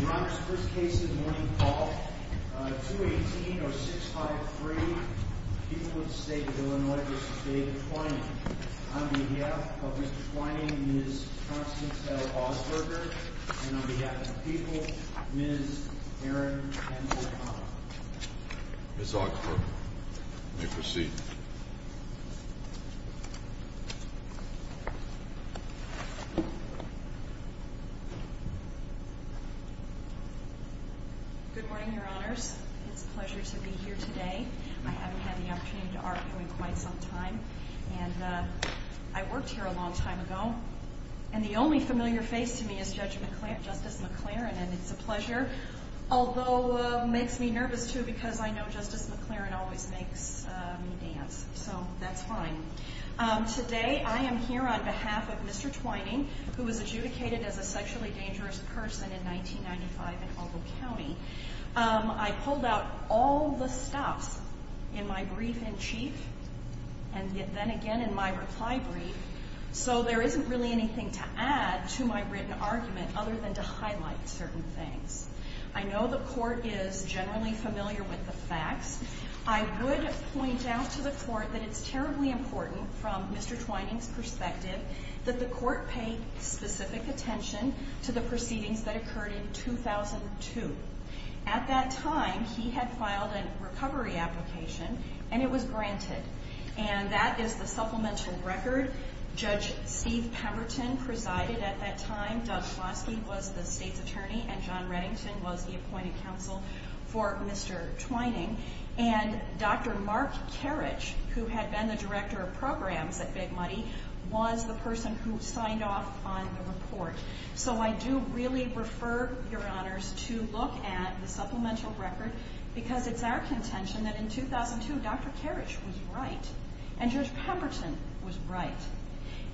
Your Honor, this case is Morning Call, 218-0653, People of the State of Illinois v. David Twining. On behalf of Mr. Twining, Ms. Constance L. Augsburger, and on behalf of the people, Ms. Erin Hensley-Connell. Ms. Augsburger, you may proceed. Good morning, Your Honors. It's a pleasure to be here today. I haven't had the opportunity to argue in quite some time, and I worked here a long time ago. And the only familiar face to me is Judge McLaren, Justice McLaren, and it's a pleasure. Although, it makes me nervous, too, because I know Justice McLaren always makes me dance, so that's fine. Today, I am here on behalf of Mr. Twining, who was adjudicated as a sexually dangerous person in 1995 in Ogle County. I pulled out all the stops in my brief in chief, and then again in my reply brief, so there isn't really anything to add to my written argument other than to highlight certain things. I know the Court is generally familiar with the facts. I would point out to the Court that it's terribly important, from Mr. Twining's perspective, that the Court pay specific attention to the proceedings that occurred in 2002. At that time, he had filed a recovery application, and it was granted. And that is the supplemental record. Judge Steve Pemberton presided at that time. Doug Floskey was the state's attorney, and John Reddington was the appointed counsel for Mr. Twining. And Dr. Mark Karich, who had been the director of programs at Big Money, was the person who signed off on the report. So I do really refer your honors to look at the supplemental record, because it's our contention that in 2002, Dr. Karich was right, and Judge Pemberton was right.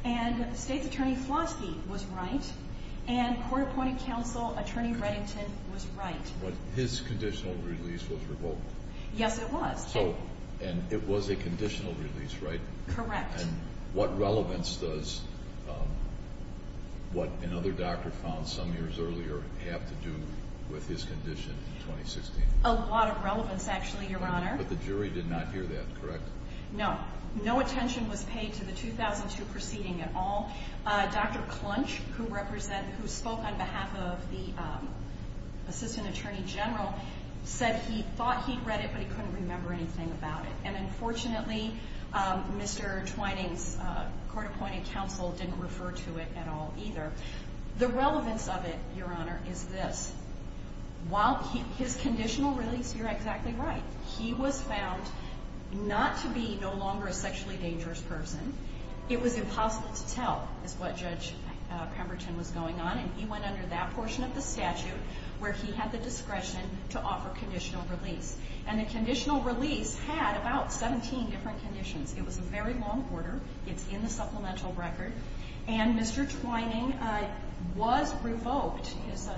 And state's attorney Floskey was right, and court-appointed counsel attorney Reddington was right. But his conditional release was revoked. Yes, it was. Oh, and it was a conditional release, right? Correct. And what relevance does what another doctor found some years earlier have to do with his condition in 2016? A lot of relevance, actually, Your Honor. But the jury did not hear that, correct? No. No attention was paid to the 2002 proceeding at all. Dr. Clunch, who spoke on behalf of the assistant attorney general, said he thought he'd read it, but he couldn't remember anything about it. And unfortunately, Mr. Twining's court-appointed counsel didn't refer to it at all either. The relevance of it, Your Honor, is this. While his conditional release, you're exactly right. He was found not to be no longer a sexually dangerous person. It was impossible to tell is what Judge Pemberton was going on, and he went under that portion of the statute where he had the discretion to offer conditional release. And the conditional release had about 17 different conditions. It was a very long order. It's in the supplemental record. And Mr. Twining was revoked. His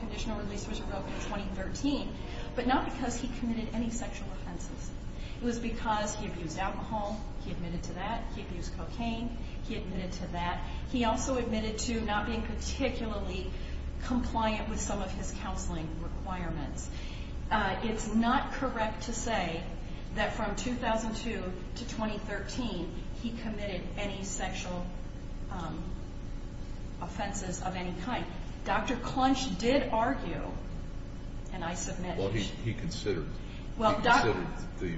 conditional release was revoked in 2013, but not because he committed any sexual offenses. It was because he abused alcohol. He admitted to that. He abused cocaine. He admitted to that. He also admitted to not being particularly compliant with some of his counseling requirements. It's not correct to say that from 2002 to 2013, he committed any sexual offenses of any kind. Dr. Clunch did argue, and I submit. Well, he considered the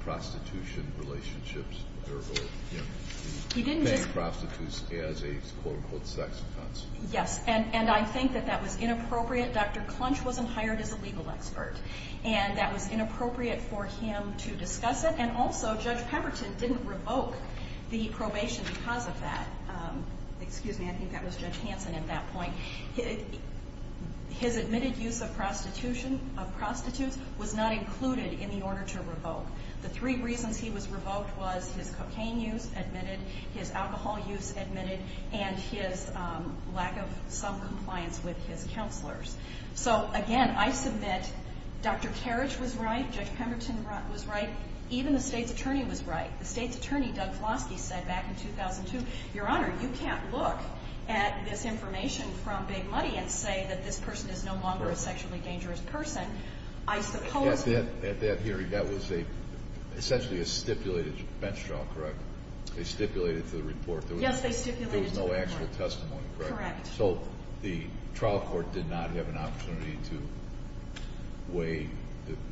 prostitution relationships or paying prostitutes as a quote-unquote sex offense. Yes. And I think that that was inappropriate. Dr. Clunch wasn't hired as a legal expert, and that was inappropriate for him to discuss it. And also, Judge Pemberton didn't revoke the probation because of that. Excuse me, I think that was Judge Hanson at that point. His admitted use of prostitution, of prostitutes, was not included in the order to revoke. The three reasons he was revoked was his cocaine use, admitted, his alcohol use, admitted, and his lack of some compliance with his counselors. So, again, I submit Dr. Terich was right. Judge Pemberton was right. Even the State's attorney was right. The State's attorney, Doug Flosky, said back in 2002, Your Honor, you can't look at this information from Big Money and say that this person is no longer a sexually dangerous person. At that hearing, that was essentially a stipulated bench trial, correct? They stipulated to the report. Yes, they stipulated to the report. There was no actual testimony, correct? Correct. So the trial court did not have an opportunity to weigh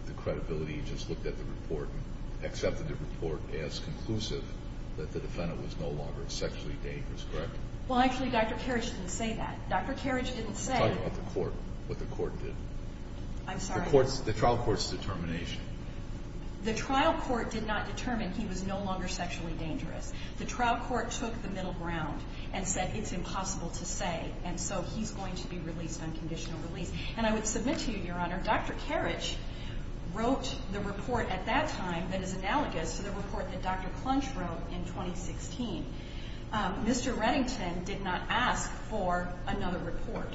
the credibility. It just looked at the report and accepted the report as conclusive that the defendant was no longer sexually dangerous, correct? Well, actually, Dr. Terich didn't say that. Dr. Terich didn't say Talk about the court, what the court did. I'm sorry. The trial court's determination. The trial court did not determine he was no longer sexually dangerous. The trial court took the middle ground and said it's impossible to say, and so he's going to be released on conditional release. And I would submit to you, Your Honor, Dr. Terich wrote the report at that time that is analogous to the report that Dr. Clunch wrote in 2016. Mr. Reddington did not ask for another report.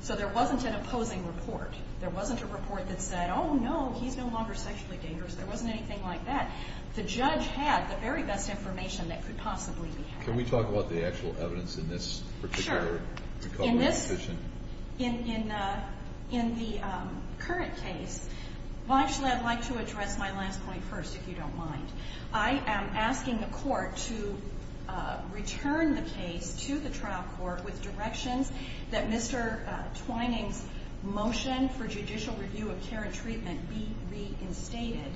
So there wasn't an opposing report. There wasn't a report that said, oh, no, he's no longer sexually dangerous. There wasn't anything like that. The judge had the very best information that could possibly be had. Can we talk about the actual evidence in this particular recovery decision? Sure. In the current case, well, actually, I'd like to address my last point first, if you don't mind. I am asking the court to return the case to the trial court with directions that Mr. Twining's motion for judicial review of care and treatment be reinstated.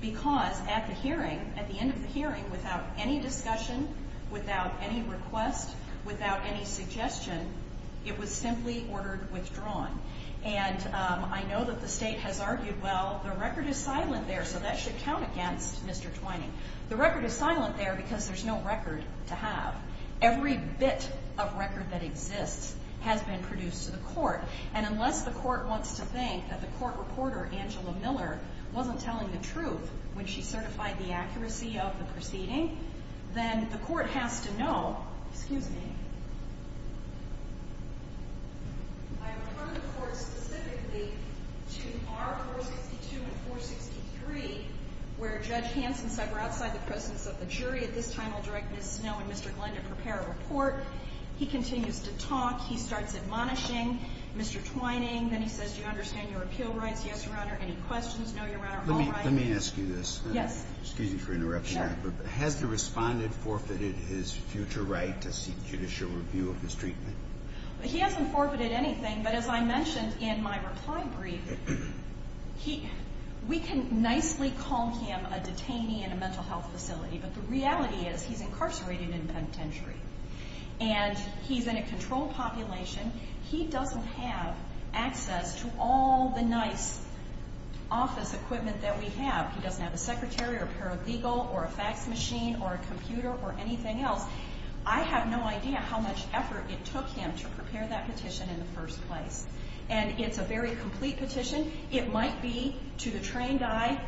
Because at the hearing, at the end of the hearing, without any discussion, without any request, without any suggestion, it was simply ordered withdrawn. And I know that the state has argued, well, the record is silent there, so that should count against Mr. Twining. The record is silent there because there's no record to have. Every bit of record that exists has been produced to the court. And unless the court wants to think that the court reporter, Angela Miller, wasn't telling the truth when she certified the accuracy of the proceeding, then the court has to know. Excuse me. I refer the court specifically to R462 and 463, where Judge Hansen said, we're outside the presence of the jury. At this time, I'll direct Ms. Snow and Mr. Glendon to prepare a report. He continues to talk. He starts admonishing Mr. Twining. Then he says, do you understand your appeal rights? Yes, Your Honor. Any questions? No, Your Honor. Let me ask you this. Yes. Excuse me for interrupting. Sure. Has the respondent forfeited his future right to seek judicial review of his treatment? He hasn't forfeited anything. But as I mentioned in my reply brief, we can nicely call him a detainee in a mental health facility, but the reality is he's incarcerated in penitentiary. And he's in a controlled population. He doesn't have access to all the nice office equipment that we have. He doesn't have a secretary or paralegal or a fax machine or a computer or anything else. I have no idea how much effort it took him to prepare that petition in the first place. And it's a very complete petition. It might be, to the trained eye,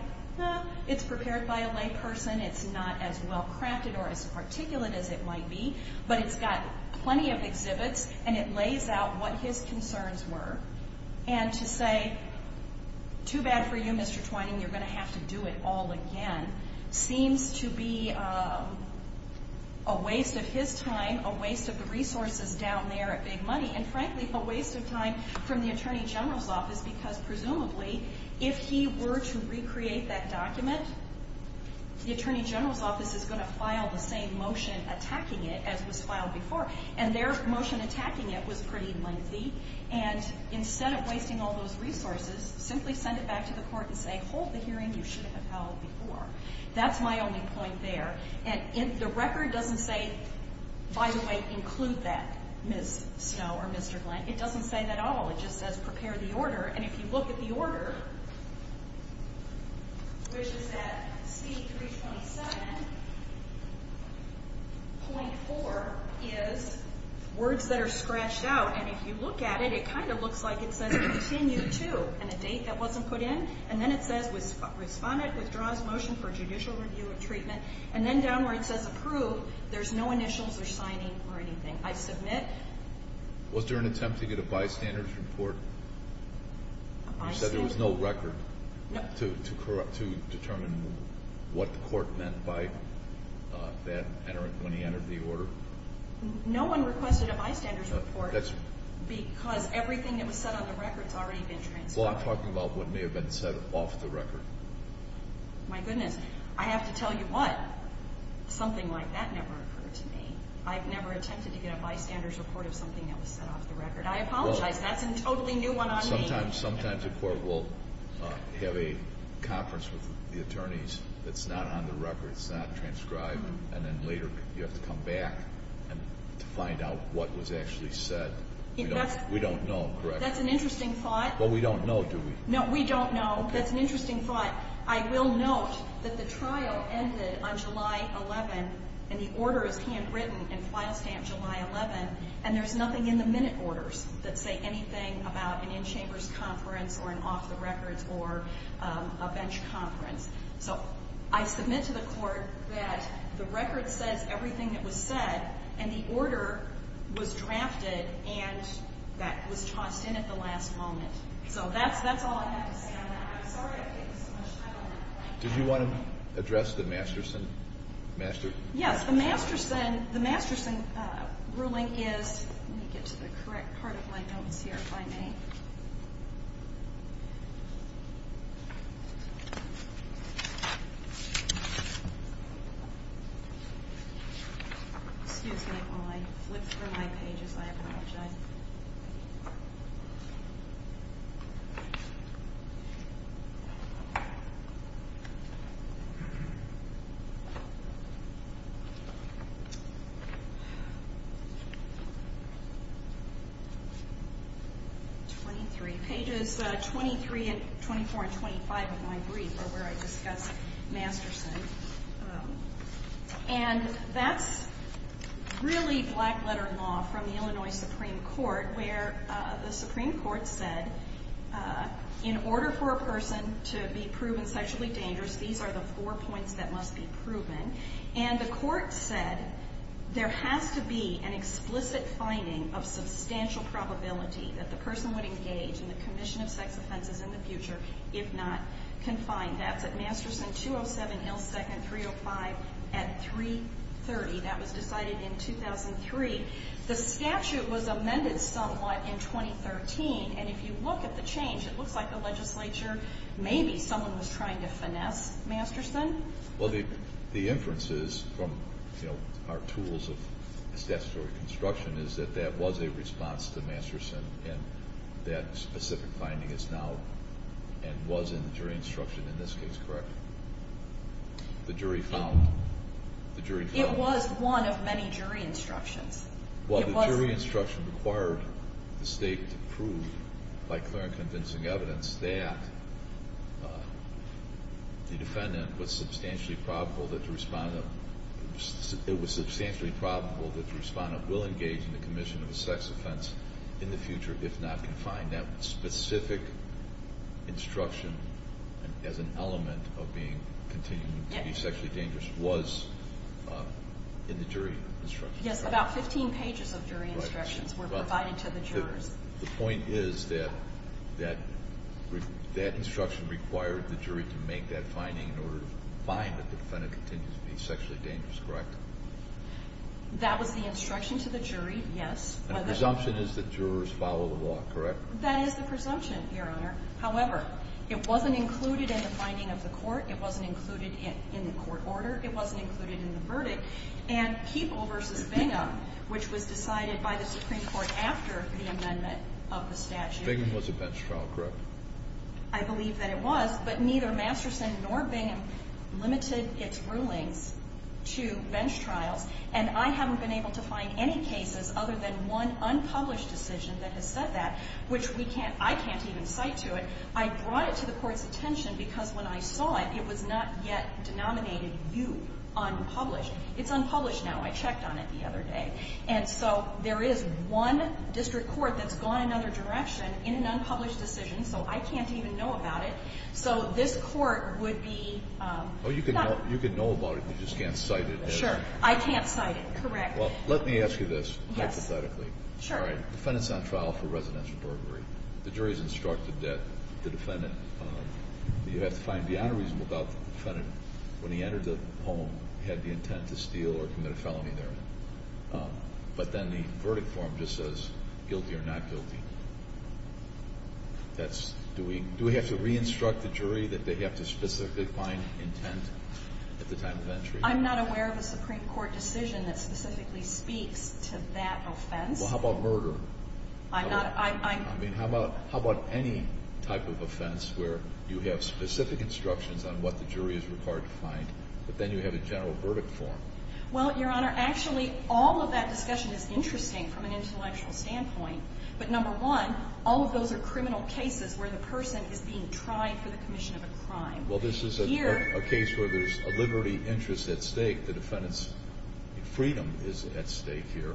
it's prepared by a layperson. It's not as well-crafted or as articulate as it might be. But it's got plenty of exhibits, and it lays out what his concerns were. And to say, too bad for you, Mr. Twining, you're going to have to do it all again, seems to be a waste of his time, a waste of the resources down there at Big Money. And, frankly, a waste of time from the attorney general's office because, presumably, if he were to recreate that document, the attorney general's office is going to file the same motion attacking it as was filed before. And their motion attacking it was pretty lengthy. And instead of wasting all those resources, simply send it back to the court and say, hold the hearing. You should have held before. That's my only point there. And the record doesn't say, by the way, include that, Ms. Snow or Mr. Glenn. It doesn't say that at all. It just says prepare the order. And if you look at the order, which is at C-327.4, is words that are scratched out. And if you look at it, it kind of looks like it says continue to and a date that wasn't put in. And then it says respondent withdraws motion for judicial review of treatment. And then down where it says approve, there's no initials or signing or anything. I submit. Was there an attempt to get a bystanders report? You said there was no record to determine what the court meant by that when he entered the order. No one requested a bystanders report because everything that was said on the record has already been transferred. Well, I'm talking about what may have been said off the record. My goodness. I have to tell you what. Something like that never occurred to me. I've never attempted to get a bystanders report of something that was said off the record. I apologize. That's a totally new one on me. Sometimes the court will have a conference with the attorneys that's not on the record. It's not transcribed. And then later you have to come back to find out what was actually said. We don't know, correct? That's an interesting thought. Well, we don't know, do we? No, we don't know. That's an interesting thought. I will note that the trial ended on July 11, and the order is handwritten and file stamped July 11, and there's nothing in the minute orders that say anything about an in-chambers conference or an off-the-records or a bench conference. So I submit to the court that the record says everything that was said, and the order was drafted and that was tossed in at the last moment. So that's all I have to say on that. Did you want to address the Masterson ruling? Yes. The Masterson ruling is, let me get to the correct part of my notes here if I may. Excuse me while I flip through my pages. I apologize. Okay. 23. Pages 23 and 24 and 25 of my brief are where I discuss Masterson, and that's really black-letter law from the Illinois Supreme Court, where the Supreme Court said in order for a person to be proven sexually dangerous, these are the four points that must be proven, and the court said there has to be an explicit finding of substantial probability that the person would engage in the commission of sex offenses in the future if not confined. That's at Masterson 207 L. 2nd 305 at 330. That was decided in 2003. The statute was amended somewhat in 2013, and if you look at the change, it looks like the legislature maybe someone was trying to finesse Masterson. Well, the inference is from our tools of statutory construction is that that was a response to Masterson, and that specific finding is now and was in the jury instruction in this case, correct? The jury found. It was one of many jury instructions. Well, the jury instruction required the state to prove by clear and convincing evidence that the defendant was substantially probable that the respondent will engage in the commission of a sex offense in the future if not confined. And that specific instruction as an element of being continuing to be sexually dangerous was in the jury instruction. Yes, about 15 pages of jury instructions were provided to the jurors. The point is that that instruction required the jury to make that finding in order to find that the defendant continues to be sexually dangerous, correct? That was the instruction to the jury, yes. And the presumption is that jurors follow the law, correct? That is the presumption, Your Honor. However, it wasn't included in the finding of the court. It wasn't included in the court order. It wasn't included in the verdict. And Peeple v. Bingham, which was decided by the Supreme Court after the amendment of the statute. Bingham was a bench trial, correct? I believe that it was, but neither Masterson nor Bingham limited its rulings to bench trials, and I haven't been able to find any cases other than one unpublished decision that has said that, which I can't even cite to it. I brought it to the court's attention because when I saw it, it was not yet denominated, you, unpublished. It's unpublished now. I checked on it the other day. And so there is one district court that's gone another direction in an unpublished decision, so I can't even know about it. So this court would be not. Well, you can know about it. You just can't cite it. Sure. I can't cite it, correct. Well, let me ask you this hypothetically. Sure. All right, defendant's on trial for residential burglary. The jury's instructed that the defendant, you have to find beyond a reasonable doubt, the defendant, when he entered the home, had the intent to steal or commit a felony there. But then the verdict form just says guilty or not guilty. Do we have to re-instruct the jury that they have to specifically find intent at the time of entry? I'm not aware of a Supreme Court decision that specifically speaks to that offense. Well, how about murder? I'm not. I mean, how about any type of offense where you have specific instructions on what the jury is required to find, but then you have a general verdict form? Well, Your Honor, actually all of that discussion is interesting from an intellectual standpoint. But number one, all of those are criminal cases where the person is being tried for the commission of a crime. Well, this is a case where there's a liberty interest at stake. The defendant's freedom is at stake here.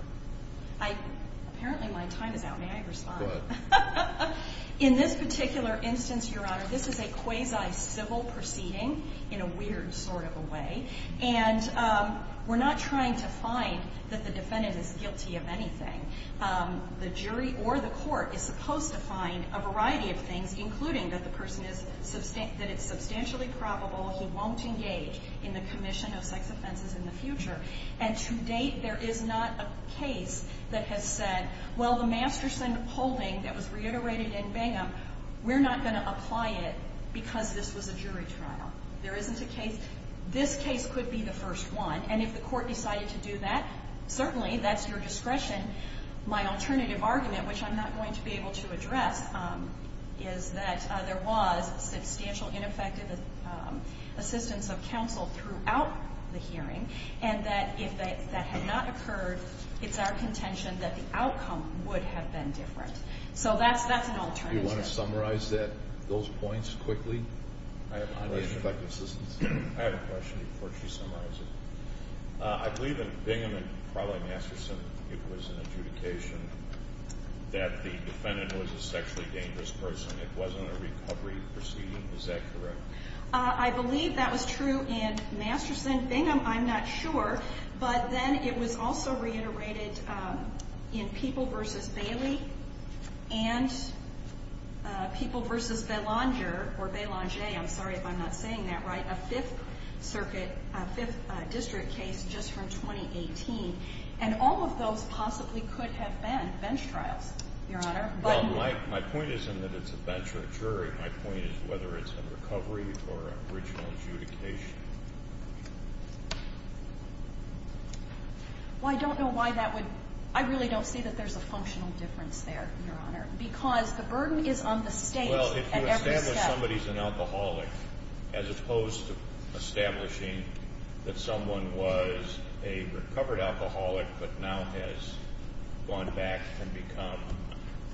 Apparently my time is out. May I respond? Go ahead. In this particular instance, Your Honor, this is a quasi-civil proceeding in a weird sort of a way. And we're not trying to find that the defendant is guilty of anything. The jury or the court is supposed to find a variety of things, including that the person is substantially probable he won't engage in the commission of sex offenses in the future. And to date there is not a case that has said, well, the Masterson holding that was reiterated in Bingham, we're not going to apply it because this was a jury trial. There isn't a case. This case could be the first one. And if the court decided to do that, certainly that's your discretion. My alternative argument, which I'm not going to be able to address, is that there was substantial ineffective assistance of counsel throughout the hearing, and that if that had not occurred, it's our contention that the outcome would have been different. So that's an alternative. Do you want to summarize those points quickly? I have a question before she summarizes it. I believe in Bingham and probably Masterson it was an adjudication that the defendant was a sexually dangerous person. It wasn't a recovery proceeding. Is that correct? I believe that was true in Masterson. Bingham, I'm not sure. But then it was also reiterated in People v. Bailey and People v. Belanger, or Belanger, I'm sorry if I'm not saying that right, a Fifth Circuit, a Fifth District case just from 2018. And all of those possibly could have been bench trials, Your Honor. Well, my point isn't that it's a bench or a jury. My point is whether it's a recovery or an original adjudication. Well, I don't know why that would ñ I really don't see that there's a functional difference there, Your Honor, because the burden is on the state at every step. Well, if you establish somebody's an alcoholic, as opposed to establishing that someone was a recovered alcoholic but now has gone back and become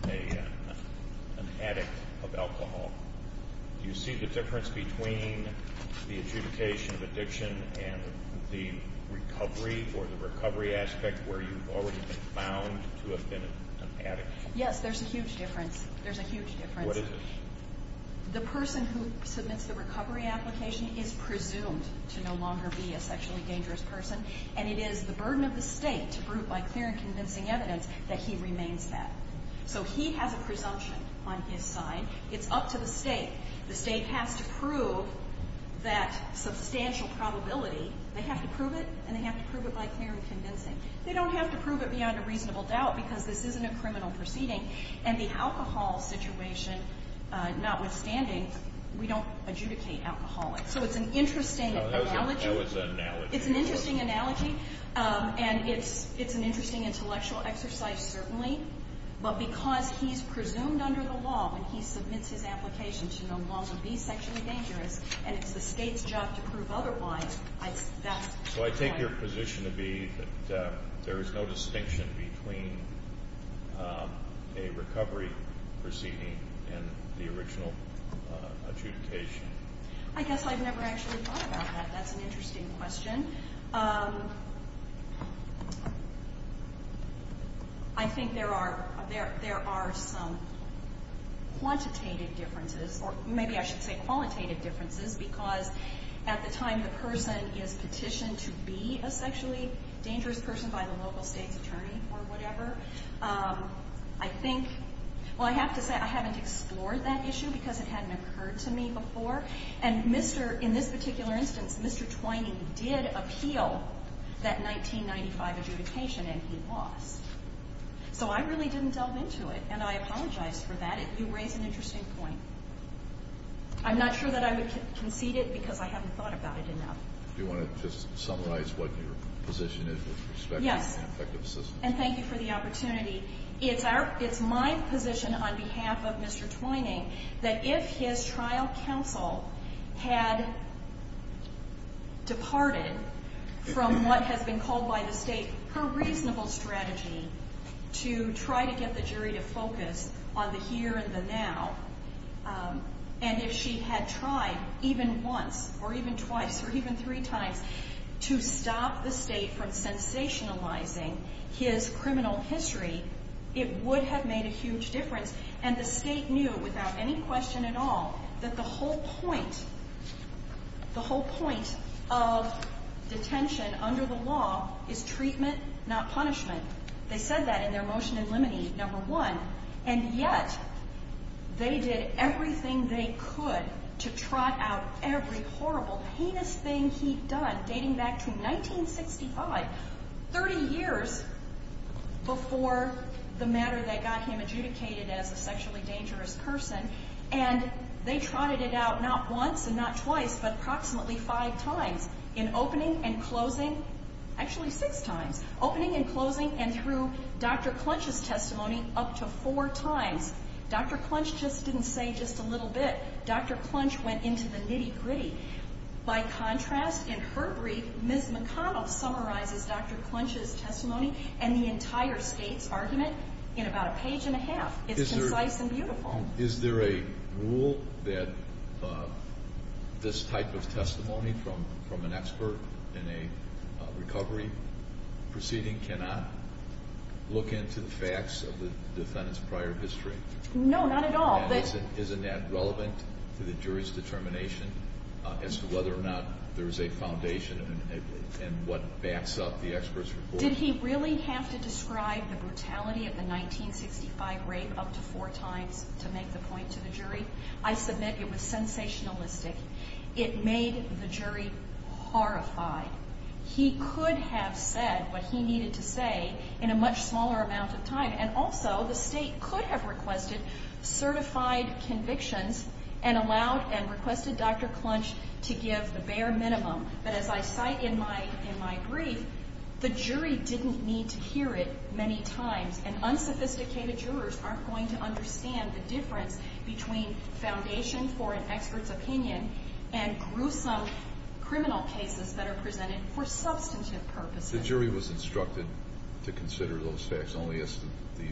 an addict of alcohol, do you see the difference between the adjudication of addiction and the recovery or the recovery aspect where you've already been found to have been an addict? Yes, there's a huge difference. There's a huge difference. What is it? The person who submits the recovery application is presumed to no longer be a sexually dangerous person, and it is the burden of the state to prove by clear and convincing evidence that he remains that. So he has a presumption on his side. It's up to the state. The state has to prove that substantial probability. They have to prove it, and they have to prove it by clear and convincing. They don't have to prove it beyond a reasonable doubt because this isn't a criminal proceeding. And the alcohol situation, notwithstanding, we don't adjudicate alcoholics. So it's an interesting analogy. That was an analogy. It's an interesting analogy, and it's an interesting intellectual exercise, certainly. But because he's presumed under the law when he submits his application to no longer be sexually dangerous, and it's the state's job to prove otherwise, that's why. So I take your position to be that there is no distinction between a recovery proceeding and the original adjudication. I guess I've never actually thought about that. That's an interesting question. I think there are some quantitative differences, or maybe I should say qualitative differences, because at the time the person is petitioned to be a sexually dangerous person by the local state's attorney or whatever. I think – well, I have to say I haven't explored that issue because it hadn't occurred to me before. And Mr. – in this particular instance, Mr. Twain did appeal that 1995 adjudication, and he lost. So I really didn't delve into it, and I apologize for that. You raise an interesting point. I'm not sure that I would concede it because I haven't thought about it enough. Do you want to just summarize what your position is with respect to an effective system? Yes, and thank you for the opportunity. It's my position on behalf of Mr. Twining that if his trial counsel had departed from what has been called by the state her reasonable strategy to try to get the jury to focus on the here and the now, and if she had tried even once or even twice or even three times to stop the state from sensationalizing his criminal history, it would have made a huge difference. And the state knew without any question at all that the whole point – the whole point of detention under the law is treatment, not punishment. They said that in their motion in limine, number one. And yet they did everything they could to trot out every horrible, heinous thing he'd done dating back to 1965, 30 years before the matter that got him adjudicated as a sexually dangerous person. And they trotted it out not once and not twice but approximately five times in opening and closing – actually six times – opening and closing and through Dr. Clunch's testimony up to four times. Dr. Clunch just didn't say just a little bit. Dr. Clunch went into the nitty-gritty. By contrast, in her brief, Ms. McConnell summarizes Dr. Clunch's testimony and the entire state's argument in about a page and a half. It's concise and beautiful. Is there a rule that this type of testimony from an expert in a recovery proceeding cannot look into the facts of the defendant's prior history? No, not at all. Isn't that relevant to the jury's determination as to whether or not there is a foundation in what backs up the expert's report? Did he really have to describe the brutality of the 1965 rape up to four times to make the point to the jury? I submit it was sensationalistic. It made the jury horrified. He could have said what he needed to say in a much smaller amount of time. And also, the state could have requested certified convictions and allowed and requested Dr. Clunch to give the bare minimum. But as I cite in my brief, the jury didn't need to hear it many times. And unsophisticated jurors aren't going to understand the difference between foundation for an expert's opinion and gruesome criminal cases that are presented for substantive purposes. The jury was instructed to consider those facts only as the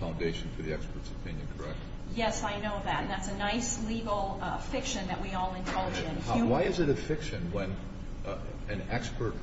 foundation for the expert's opinion, correct? Yes, I know that. And that's a nice legal fiction that we all indulge in. Why is it a fiction when an expert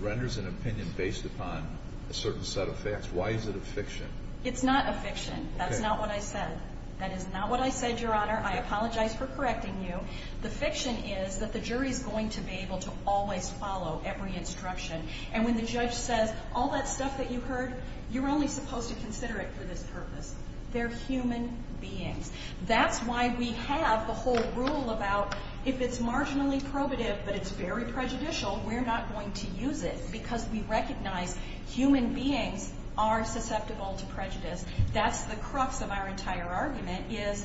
renders an opinion based upon a certain set of facts? Why is it a fiction? It's not a fiction. That's not what I said. That is not what I said, Your Honor. I apologize for correcting you. The fiction is that the jury is going to be able to always follow every instruction. And when the judge says all that stuff that you heard, you're only supposed to consider it for this purpose. They're human beings. That's why we have the whole rule about if it's marginally probative but it's very prejudicial, we're not going to use it because we recognize human beings are susceptible to prejudice. That's the crux of our entire argument is,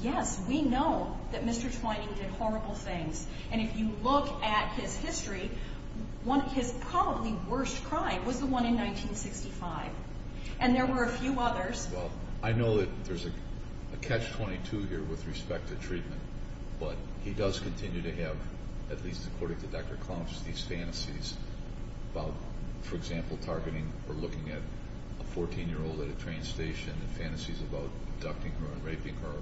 yes, we know that Mr. Twining did horrible things. And if you look at his history, his probably worst crime was the one in 1965. And there were a few others. Well, I know that there's a catch-22 here with respect to treatment. But he does continue to have, at least according to Dr. Clomps, these fantasies about, for example, targeting or looking at a 14-year-old at a train station and fantasies about abducting her and raping her,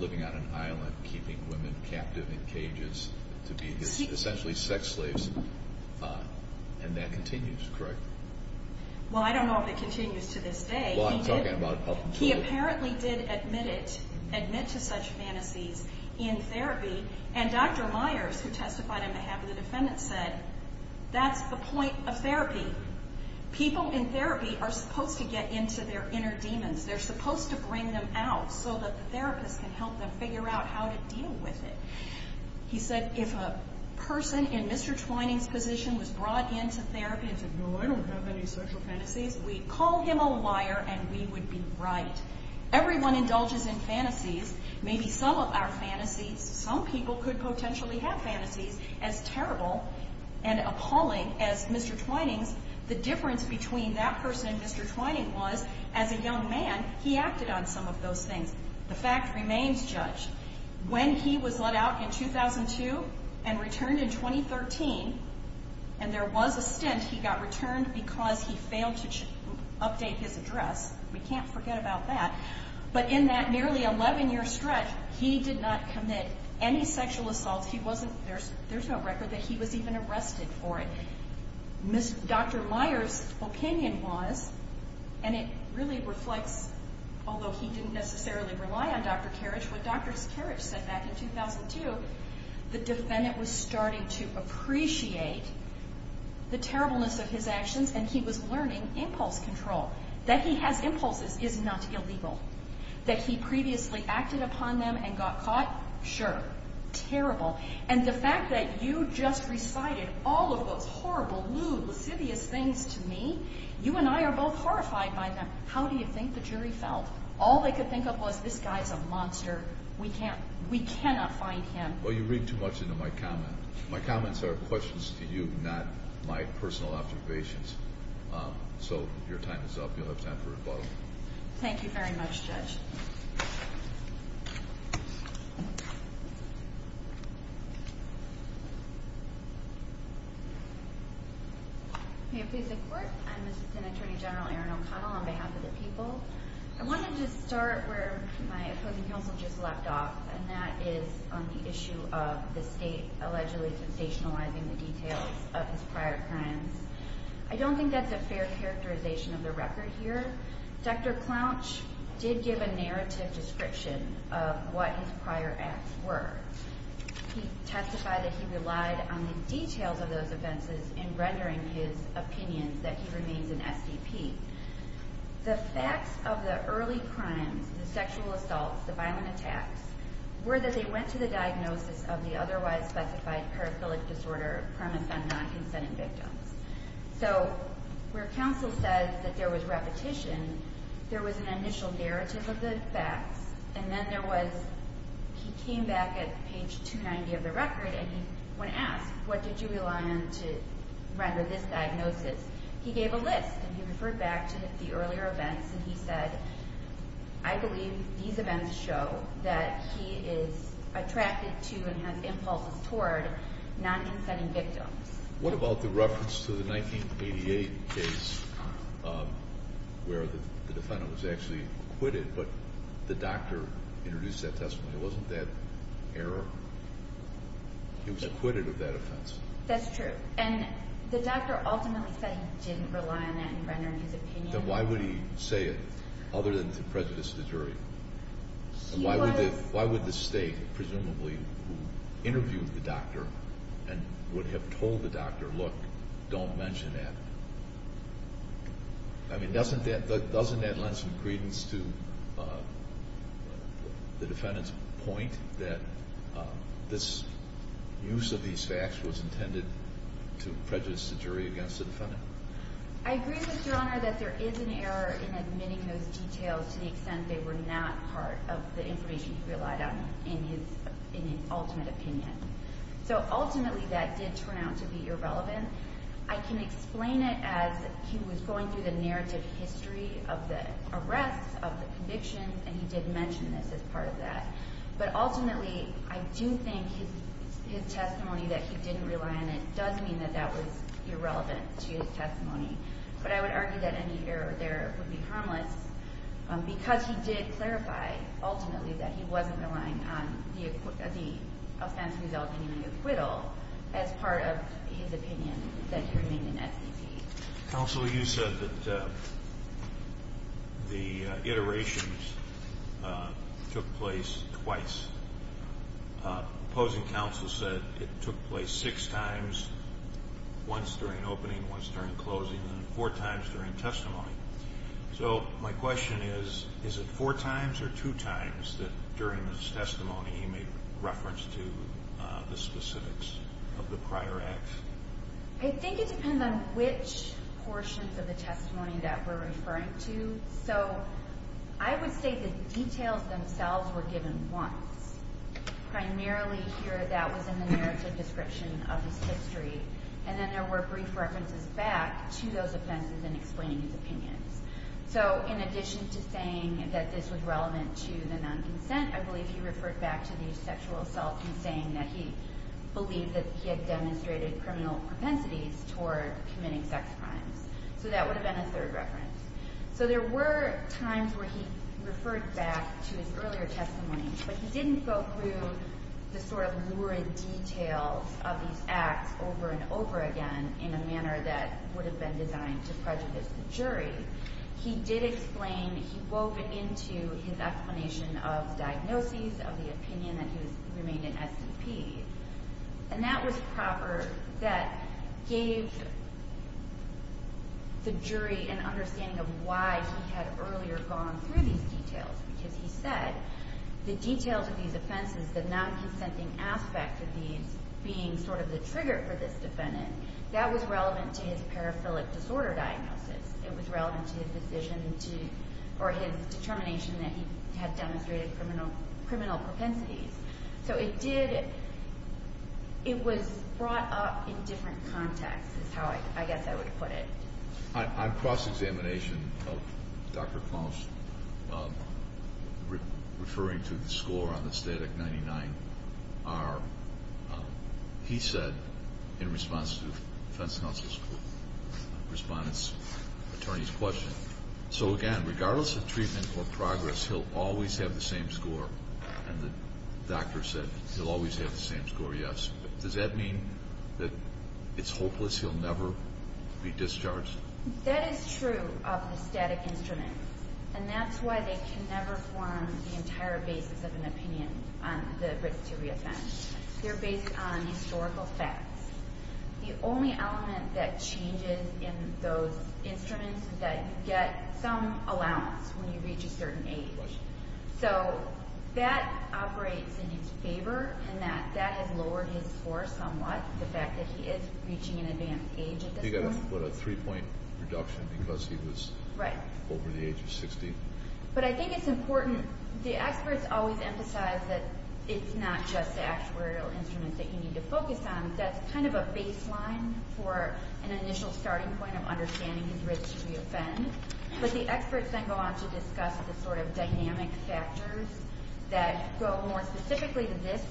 living on an island, keeping women captive in cages to be essentially sex slaves. And that continues, correct? Well, I don't know if it continues to this day. He apparently did admit it, admit to such fantasies in therapy. And Dr. Myers, who testified on behalf of the defendant, said that's the point of therapy. People in therapy are supposed to get into their inner demons. They're supposed to bring them out so that the therapist can help them figure out how to deal with it. He said if a person in Mr. Twining's position was brought into therapy and said, no, I don't have any sexual fantasies, we'd call him a liar and we would be right. Everyone indulges in fantasies. Maybe some of our fantasies, some people could potentially have fantasies as terrible and appalling as Mr. Twining's. The difference between that person and Mr. Twining was, as a young man, he acted on some of those things. The fact remains judged. When he was let out in 2002 and returned in 2013, and there was a stint, he got returned because he failed to update his address. We can't forget about that. But in that nearly 11-year stretch, he did not commit any sexual assaults. There's no record that he was even arrested for it. Dr. Myers' opinion was, and it really reflects, although he didn't necessarily rely on Dr. Karich, what Dr. Karich said back in 2002, the defendant was starting to appreciate the terribleness of his actions and he was learning impulse control. That he has impulses is not illegal. That he previously acted upon them and got caught, sure. Terrible. And the fact that you just recited all of those horrible, lewd, lascivious things to me, you and I are both horrified by them. How do you think the jury felt? All they could think of was, this guy's a monster. We cannot find him. Well, you read too much into my comment. My comments are questions to you, not my personal observations. So your time is up. You'll have time for rebuttal. Thank you very much, Judge. May it please the Court. I'm Assistant Attorney General Erin O'Connell on behalf of the people. I wanted to start where my opposing counsel just left off, and that is on the issue of the state allegedly sensationalizing the details of his prior crimes. I don't think that's a fair characterization of the record here. Dr. Clouch did give a narrative description of what his prior acts were. He testified that he relied on the details of those offenses in rendering his opinion that he remains an SDP. The facts of the early crimes, the sexual assaults, the violent attacks, were that they went to the diagnosis of the otherwise specified paraphilic disorder premise on non-consenting victims. So where counsel said that there was repetition, there was an initial narrative of the facts, and then there was—he came back at page 290 of the record, and he went and asked, what did you rely on to render this diagnosis? He gave a list, and he referred back to the earlier events, and he said, I believe these events show that he is attracted to and has impulses toward non-consenting victims. What about the reference to the 1988 case where the defendant was actually acquitted, but the doctor introduced that testimony? It wasn't that error. He was acquitted of that offense. That's true. And the doctor ultimately said he didn't rely on that in rendering his opinion. Then why would he say it other than to prejudice the jury? He was— Why would the State, presumably, who interviewed the doctor and would have told the doctor, look, don't mention that? I mean, doesn't that lend some credence to the defendant's point that this use of these facts was intended to prejudice the jury against the defendant? I agree, Mr. Honor, that there is an error in admitting those details to the extent they were not part of the information he relied on in his ultimate opinion. So ultimately, that did turn out to be irrelevant. I can explain it as he was going through the narrative history of the arrests, of the convictions, and he did mention this as part of that. But ultimately, I do think his testimony that he didn't rely on it does mean that that was irrelevant to his testimony. But I would argue that any error there would be harmless because he did clarify, ultimately, that he wasn't relying on the offense resulting in an acquittal as part of his opinion that he remained in SEC. Counsel, you said that the iterations took place twice. The opposing counsel said it took place six times, once during opening, once during closing, and four times during testimony. So my question is, is it four times or two times that during his testimony he made reference to the specifics of the prior acts? I think it depends on which portions of the testimony that we're referring to. So I would say the details themselves were given once. Primarily here, that was in the narrative description of his history, and then there were brief references back to those offenses in explaining his opinions. So in addition to saying that this was relevant to the non-consent, I believe he referred back to the sexual assault in saying that he believed that he had demonstrated criminal propensities toward committing sex crimes. So that would have been a third reference. So there were times where he referred back to his earlier testimony, but he didn't go through the sort of lurid details of these acts over and over again in a manner that would have been designed to prejudice the jury. He did explain, he wove into his explanation of diagnoses, of the opinion that he remained in SCP, and that was proper that gave the jury an understanding of why he had earlier gone through these details, because he said the details of these offenses, the non-consenting aspect of these being sort of the trigger for this defendant, that was relevant to his paraphilic disorder diagnosis. It was relevant to his decision to, or his determination that he had demonstrated criminal propensities. So it did, it was brought up in different contexts is how I guess I would put it. On cross-examination of Dr. Klaus, referring to the score on the STATIC-99, he said in response to the defense counsel's, respondent's, attorney's question, so again, regardless of treatment or progress, he'll always have the same score, and the doctor said he'll always have the same score, yes. Does that mean that it's hopeless, he'll never be discharged? That is true of the STATIC instruments, and that's why they can never form the entire basis of an opinion on the risk to re-offend. They're based on historical facts. The only element that changes in those instruments is that you get some allowance when you reach a certain age. So that operates in his favor in that that has lowered his score somewhat, the fact that he is reaching an advanced age at this point. He got a three-point reduction because he was over the age of 60. But I think it's important, the experts always emphasize that it's not just the actuarial instruments that you need to focus on. That's kind of a baseline for an initial starting point of understanding his risk to re-offend. But the experts then go on to discuss the sort of dynamic factors that go more specifically to this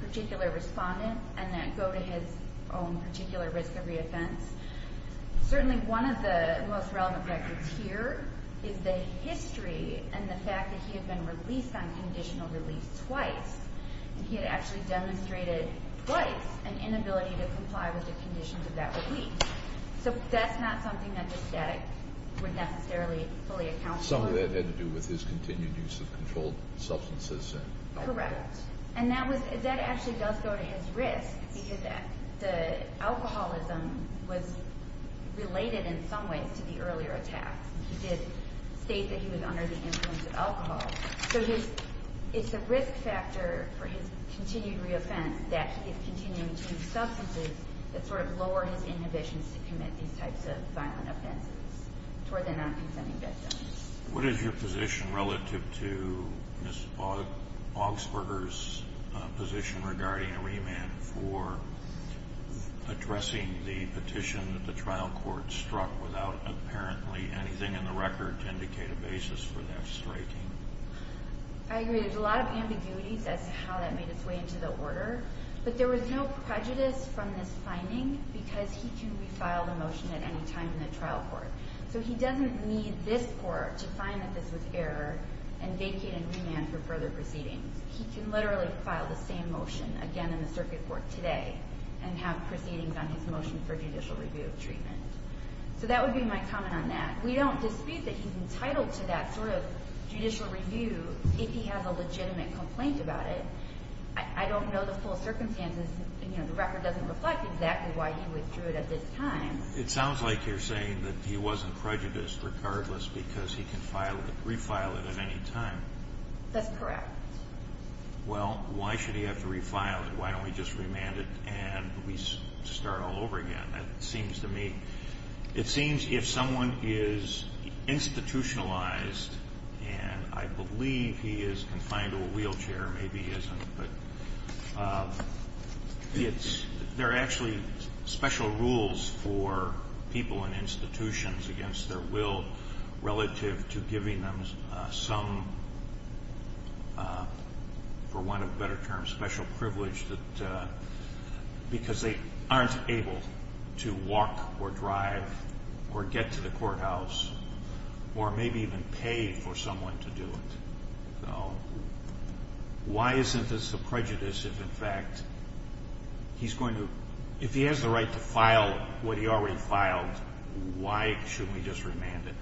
particular respondent and that go to his own particular risk of re-offense. Certainly one of the most relevant factors here is the history and the fact that he had been released on conditional release twice. He had actually demonstrated twice an inability to comply with the conditions of that release. So that's not something that the static would necessarily fully account for. Something that had to do with his continued use of controlled substances. Correct. And that actually does go to his risk because the alcoholism was related in some ways to the earlier attacks. He did state that he was under the influence of alcohol. So it's a risk factor for his continued re-offense that he's continuing to use substances that sort of lower his inhibitions to commit these types of violent offenses toward the non-consenting victims. What is your position relative to Ms. Augsburger's position regarding a remand for addressing the petition that the trial court struck without apparently anything in the record to indicate a basis for that striking? I agree. There's a lot of ambiguities as to how that made its way into the order. But there was no prejudice from this finding because he can refile the motion at any time in the trial court. So he doesn't need this court to find that this was error and vacate and remand for further proceedings. He can literally file the same motion again in the circuit court today and have proceedings on his motion for judicial review of treatment. So that would be my comment on that. We don't dispute that he's entitled to that sort of judicial review if he has a legitimate complaint about it. I don't know the full circumstances. The record doesn't reflect exactly why he withdrew it at this time. It sounds like you're saying that he wasn't prejudiced regardless because he can refile it at any time. That's correct. Well, why should he have to refile it? Why don't we just remand it and we start all over again? It seems to me it seems if someone is institutionalized and I believe he is confined to a wheelchair, maybe he isn't, but there are actually special rules for people in institutions against their will relative to giving them some, for want of a better term, some special privilege because they aren't able to walk or drive or get to the courthouse or maybe even pay for someone to do it. Why isn't this a prejudice if, in fact, he's going to – if he has the right to file what he already filed, why should we just remand it?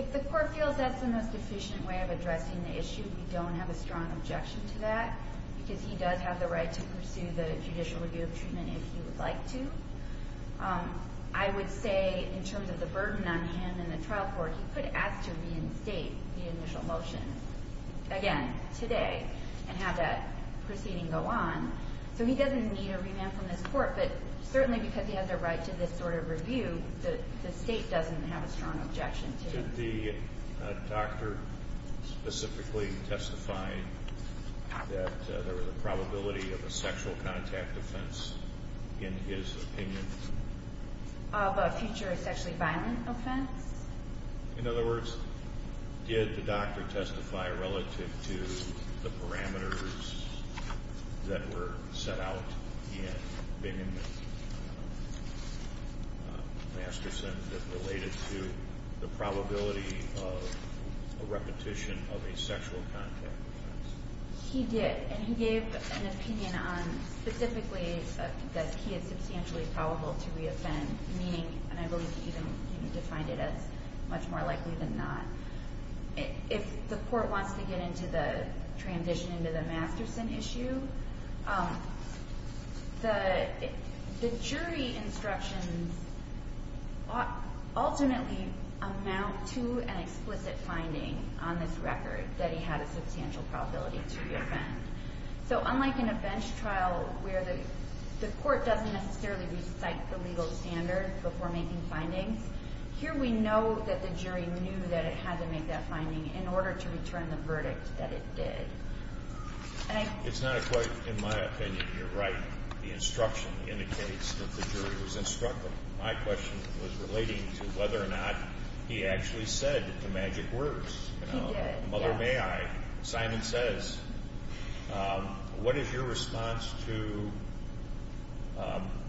If the court feels that's the most efficient way of addressing the issue, we don't have a strong objection to that because he does have the right to pursue the judicial review of treatment if he would like to. I would say in terms of the burden on him and the trial court, he could ask to reinstate the initial motion again today and have that proceeding go on. So he doesn't need a remand from this court, but certainly because he has the right to this sort of review, the state doesn't have a strong objection to it. Did the doctor specifically testify that there was a probability of a sexual contact offense in his opinion? Of a future sexually violent offense? In other words, did the doctor testify relative to the parameters that were set out in Bingham and Masterson that related to the probability of a repetition of a sexual contact offense? He did, and he gave an opinion on specifically that he is substantially probable to reoffend, meaning – and I believe he even defined it as much more likely than not. If the court wants to get into the transition into the Masterson issue, the jury instructions ultimately amount to an explicit finding on this record that he had a substantial probability to reoffend. So unlike in a bench trial where the court doesn't necessarily recite the legal standard before making findings, here we know that the jury knew that it had to make that finding in order to return the verdict that it did. It's not quite in my opinion you're right. The instruction indicates that the jury was instructive. My question was relating to whether or not he actually said the magic words. He did, yes. All right. Simon says, what is your response to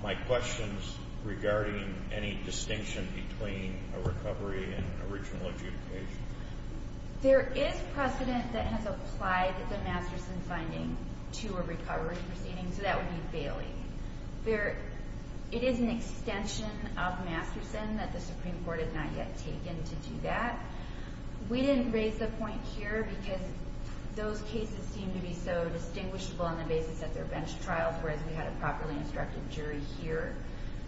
my questions regarding any distinction between a recovery and original adjudication? There is precedent that has applied the Masterson finding to a recovery proceeding, so that would be bailing. It is an extension of Masterson that the Supreme Court has not yet taken to do that. We didn't raise the point here because those cases seem to be so distinguishable on the basis that they're bench trials, whereas we had a properly instructed jury here.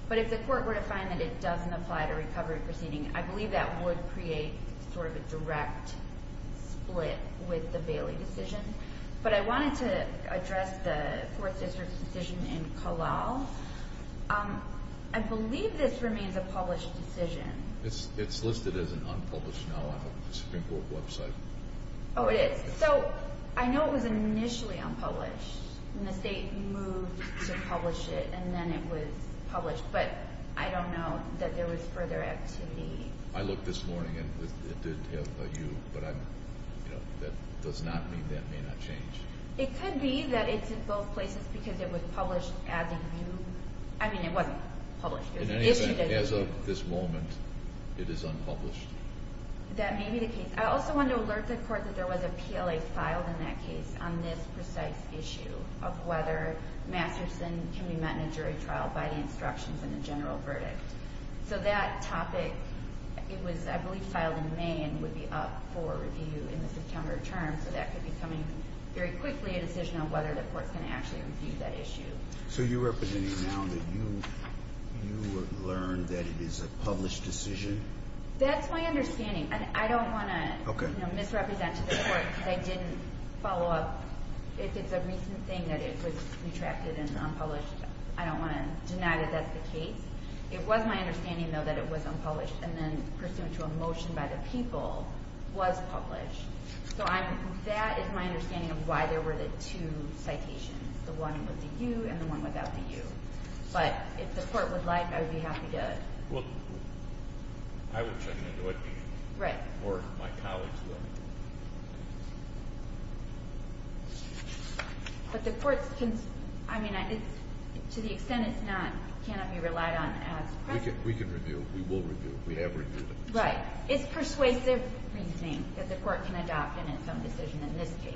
But if the court were to find that it doesn't apply to a recovery proceeding, I believe that would create sort of a direct split with the Bailey decision. But I wanted to address the Fourth District's decision in Kalal. I believe this remains a published decision. It's listed as an unpublished now on the Supreme Court website. Oh, it is. So I know it was initially unpublished, and the state moved to publish it, and then it was published, but I don't know that there was further activity. I looked this morning, and it did have a U, but that does not mean that may not change. It could be that it's in both places because it was published as a U. I mean, it wasn't published. In any event, as of this moment, it is unpublished. That may be the case. I also wanted to alert the court that there was a PLA filed in that case on this precise issue of whether Masterson can be met in a jury trial by the instructions in the general verdict. So that topic, it was, I believe, filed in May and would be up for review in the September term, so that could be coming very quickly, a decision on whether the court's going to actually review that issue. So you're representing now that you learned that it is a published decision? That's my understanding. I don't want to misrepresent to the court that I didn't follow up. If it's a recent thing that it was retracted and unpublished, I don't want to deny that that's the case. It was my understanding, though, that it was unpublished and then pursuant to a motion by the people was published. So that is my understanding of why there were the two citations, the one with the U and the one without the U. But if the court would like, I would be happy to. Well, I would certainly do it. Right. Or my colleagues will. But the court can, I mean, to the extent it's not, cannot be relied on as press. We can review. We will review. We have reviewed it. Right. It's persuasive reasoning that the court can adopt in its own decision in this case.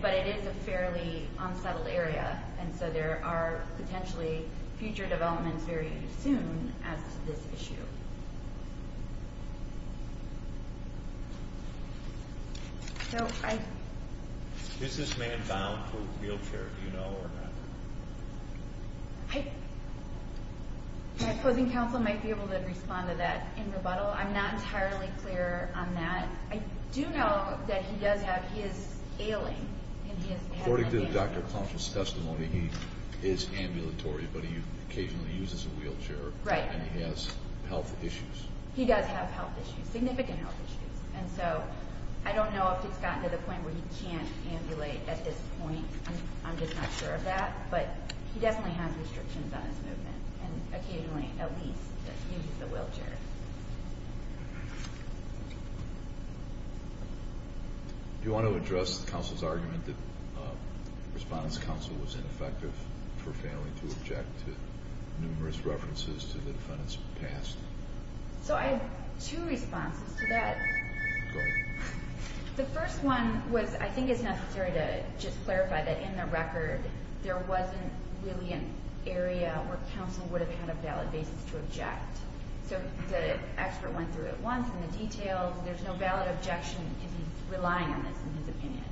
But it is a fairly unsettled area. And so there are potentially future developments very soon as to this issue. Is this man bound for wheelchair, do you know, or not? My opposing counsel might be able to respond to that in rebuttal. I'm not entirely clear on that. I do know that he does have, he is ailing. According to the doctor's counsel's testimony, he is ambulatory, but he occasionally uses a wheelchair. Right. And he has health issues. He does have health issues, significant health issues. And so I don't know if it's gotten to the point where he can't ambulate at this point. I'm just not sure of that. But he definitely has restrictions on his movement, and occasionally at least uses a wheelchair. Do you want to address the counsel's argument that the respondent's counsel was ineffective for failing to object to numerous references to the defendant's past? So I have two responses to that. Go ahead. The first one was I think it's necessary to just clarify that in the record, there wasn't really an area where counsel would have had a valid basis to object. So the expert went through it once, and the details, there's no valid objection if he's relying on this in his opinion.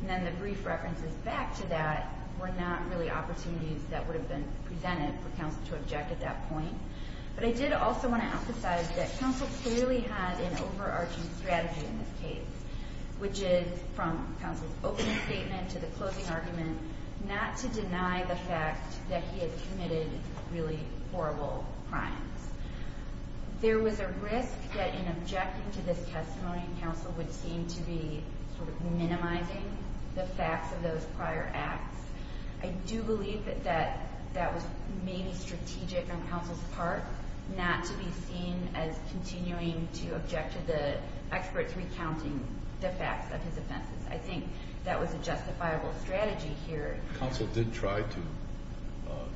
And then the brief references back to that were not really opportunities that would have been presented for counsel to object at that point. But I did also want to emphasize that counsel clearly had an overarching strategy in this case, which is from counsel's opening statement to the closing argument, not to deny the fact that he had committed really horrible crimes. There was a risk that in objecting to this testimony, counsel would seem to be sort of minimizing the facts of those prior acts. I do believe that that was maybe strategic on counsel's part, not to be seen as continuing to object to the expert's recounting the facts of his offenses. I think that was a justifiable strategy here. Counsel did try to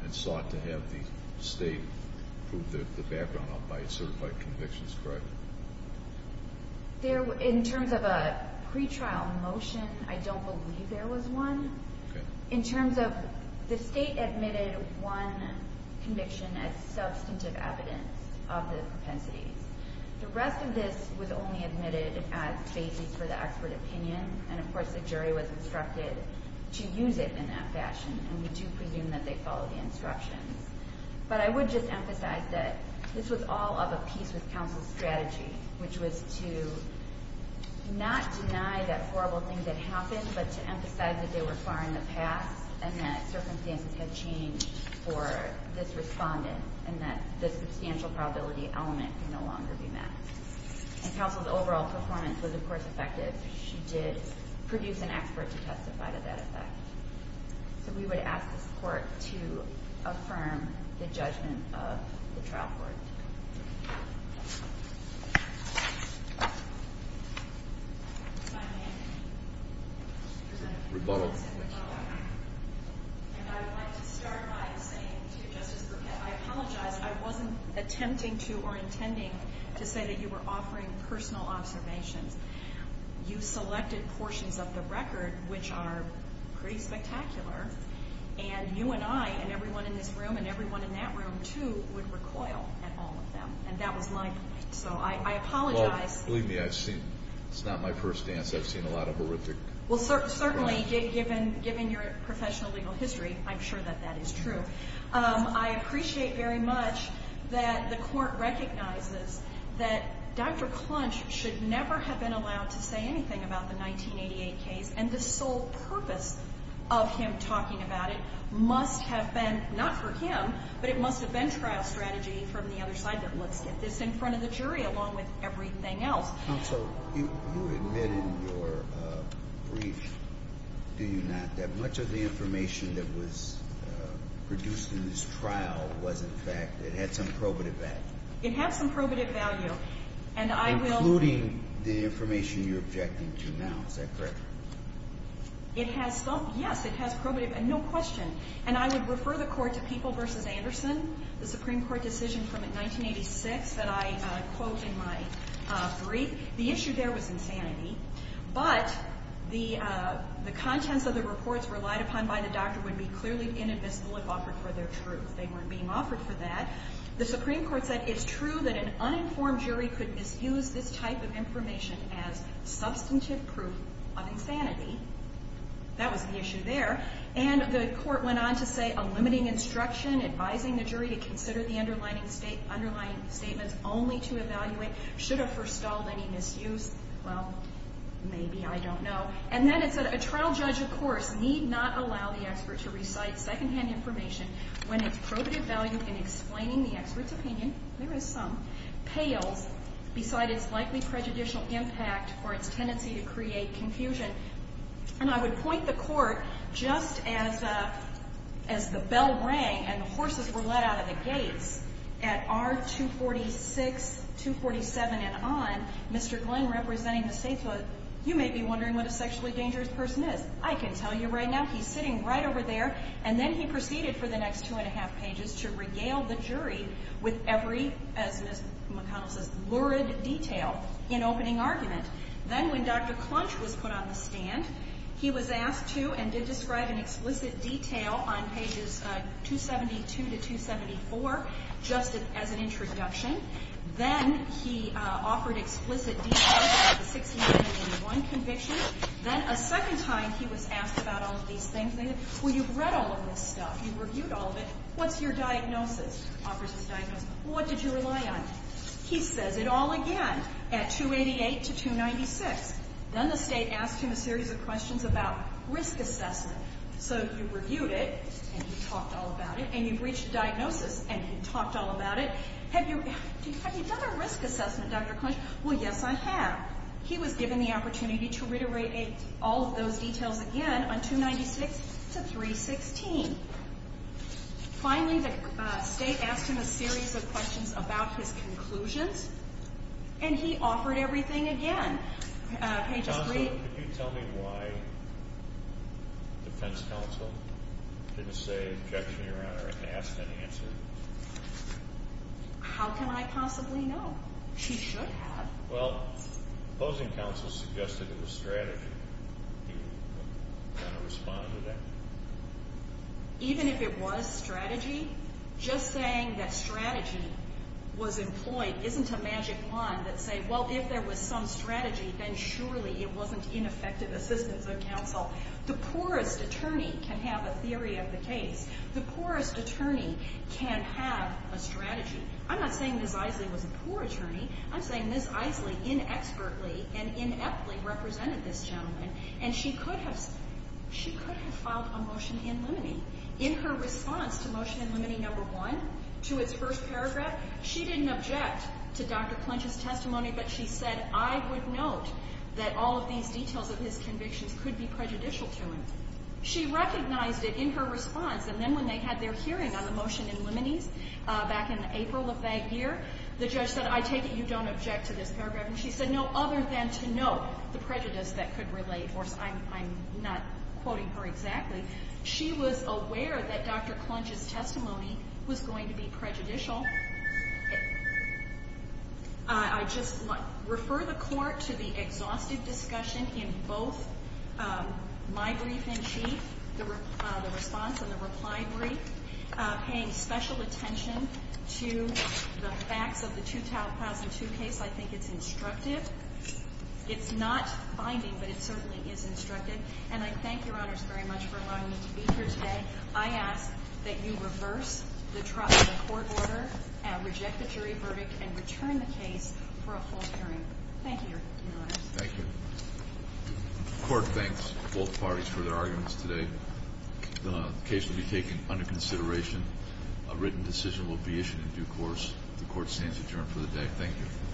and sought to have the State prove the background by certified convictions, correct? In terms of a pretrial motion, I don't believe there was one. Okay. In terms of the State admitted one conviction as substantive evidence of the propensities. The rest of this was only admitted as basis for the expert opinion. And, of course, the jury was instructed to use it in that fashion, and we do presume that they followed the instructions. But I would just emphasize that this was all of a piece with counsel's strategy, which was to not deny that horrible thing that happened, but to emphasize that they were far in the past and that circumstances had changed for this respondent and that the substantial probability element could no longer be met. And counsel's overall performance was, of course, effective. She did produce an expert to testify to that effect. So we would ask the court to affirm the judgment of the trial court. Rebuttal. And I would like to start by saying to Justice Brucken, I apologize. I wasn't attempting to or intending to say that you were offering personal observations. You selected portions of the record which are pretty spectacular, and you and I and everyone in this room and everyone in that room, too, would recoil at all of them, and that was my point. So I apologize. Well, believe me, it's not my first dance. I've seen a lot of horrific things. Well, certainly, given your professional legal history, I'm sure that that is true. I appreciate very much that the court recognizes that Dr. Clunch should never have been allowed to say anything about the 1988 case, and the sole purpose of him talking about it must have been not for him, but it must have been trial strategy from the other side, that let's get this in front of the jury along with everything else. Counsel, you admit in your brief, do you not, that much of the information that was produced in this trial was, in fact, it had some probative value? It had some probative value. Including the information you're objecting to now, is that correct? Yes, it has probative value, no question. And I would refer the court to People v. Anderson, the Supreme Court decision from 1986 that I quote in my brief. The issue there was insanity, but the contents of the reports relied upon by the doctor would be clearly inadmissible if offered for their truth. They weren't being offered for that. The Supreme Court said it's true that an uninformed jury could misuse this type of information as substantive proof of insanity. That was the issue there. And the court went on to say, a limiting instruction advising the jury to consider the underlying statements only to evaluate should have forestalled any misuse. Well, maybe, I don't know. And then it said a trial judge, of course, need not allow the expert to recite second-hand information when its probative value in explaining the expert's opinion, there is some, pales beside its likely prejudicial impact for its tendency to create confusion. And I would point the court just as the bell rang and the horses were let out of the gates, at R-246, 247 and on, Mr. Glenn representing the Statehood, you may be wondering what a sexually dangerous person is. I can tell you right now, he's sitting right over there, and then he proceeded for the next two and a half pages to regale the jury with every, as Ms. McConnell says, lurid detail in opening argument. Then when Dr. Clunch was put on the stand, he was asked to, and did describe in explicit detail on pages 272 to 274, just as an introduction. Then he offered explicit details about the 1691 conviction. Then a second time he was asked about all of these things. Well, you've read all of this stuff, you've reviewed all of it. What's your diagnosis? Offers his diagnosis. What did you rely on? He says it all again at 288 to 296. Then the State asked him a series of questions about risk assessment. So you reviewed it, and you talked all about it, and you've reached a diagnosis, and you talked all about it. Have you done a risk assessment, Dr. Clunch? Well, yes, I have. He was given the opportunity to reiterate all of those details again on 296 to 316. Finally, the State asked him a series of questions about his conclusions, and he offered everything again. Pages 3... Counselor, could you tell me why Defense Counsel didn't say objection, Your Honor, or ask an answer? How can I possibly know? She should have. Well, opposing counsel suggested it was strategy. Do you want to respond to that? Even if it was strategy, just saying that strategy was employed isn't a magic wand that says, well, if there was some strategy, then surely it wasn't ineffective assistance of counsel. The poorest attorney can have a theory of the case. The poorest attorney can have a strategy. I'm not saying Ms. Isley was a poor attorney. I'm saying Ms. Isley inexpertly and ineptly represented this gentleman, and she could have filed a motion in limine. In her response to Motion in Limine No. 1, to its first paragraph, she didn't object to Dr. Clinch's testimony, but she said, I would note that all of these details of his convictions could be prejudicial to him. She recognized it in her response, and then when they had their hearing on the motion in limine back in April of that year, the judge said, I take it you don't object to this paragraph, and she said, no, other than to note the prejudice that could relate. Of course, I'm not quoting her exactly. She was aware that Dr. Clinch's testimony was going to be prejudicial. I just refer the Court to the exhaustive discussion in both my brief in chief, the response and the reply brief, paying special attention to the facts of the 2002 case. I think it's instructive. It's not binding, but it certainly is instructive, and I thank Your Honors very much for allowing me to be here today. I ask that you reverse the court order, reject the jury verdict, and return the case for a full hearing. Thank you, Your Honors. Thank you. The Court thanks both parties for their arguments today. The case will be taken under consideration. A written decision will be issued in due course. The Court stands adjourned for the day. Thank you.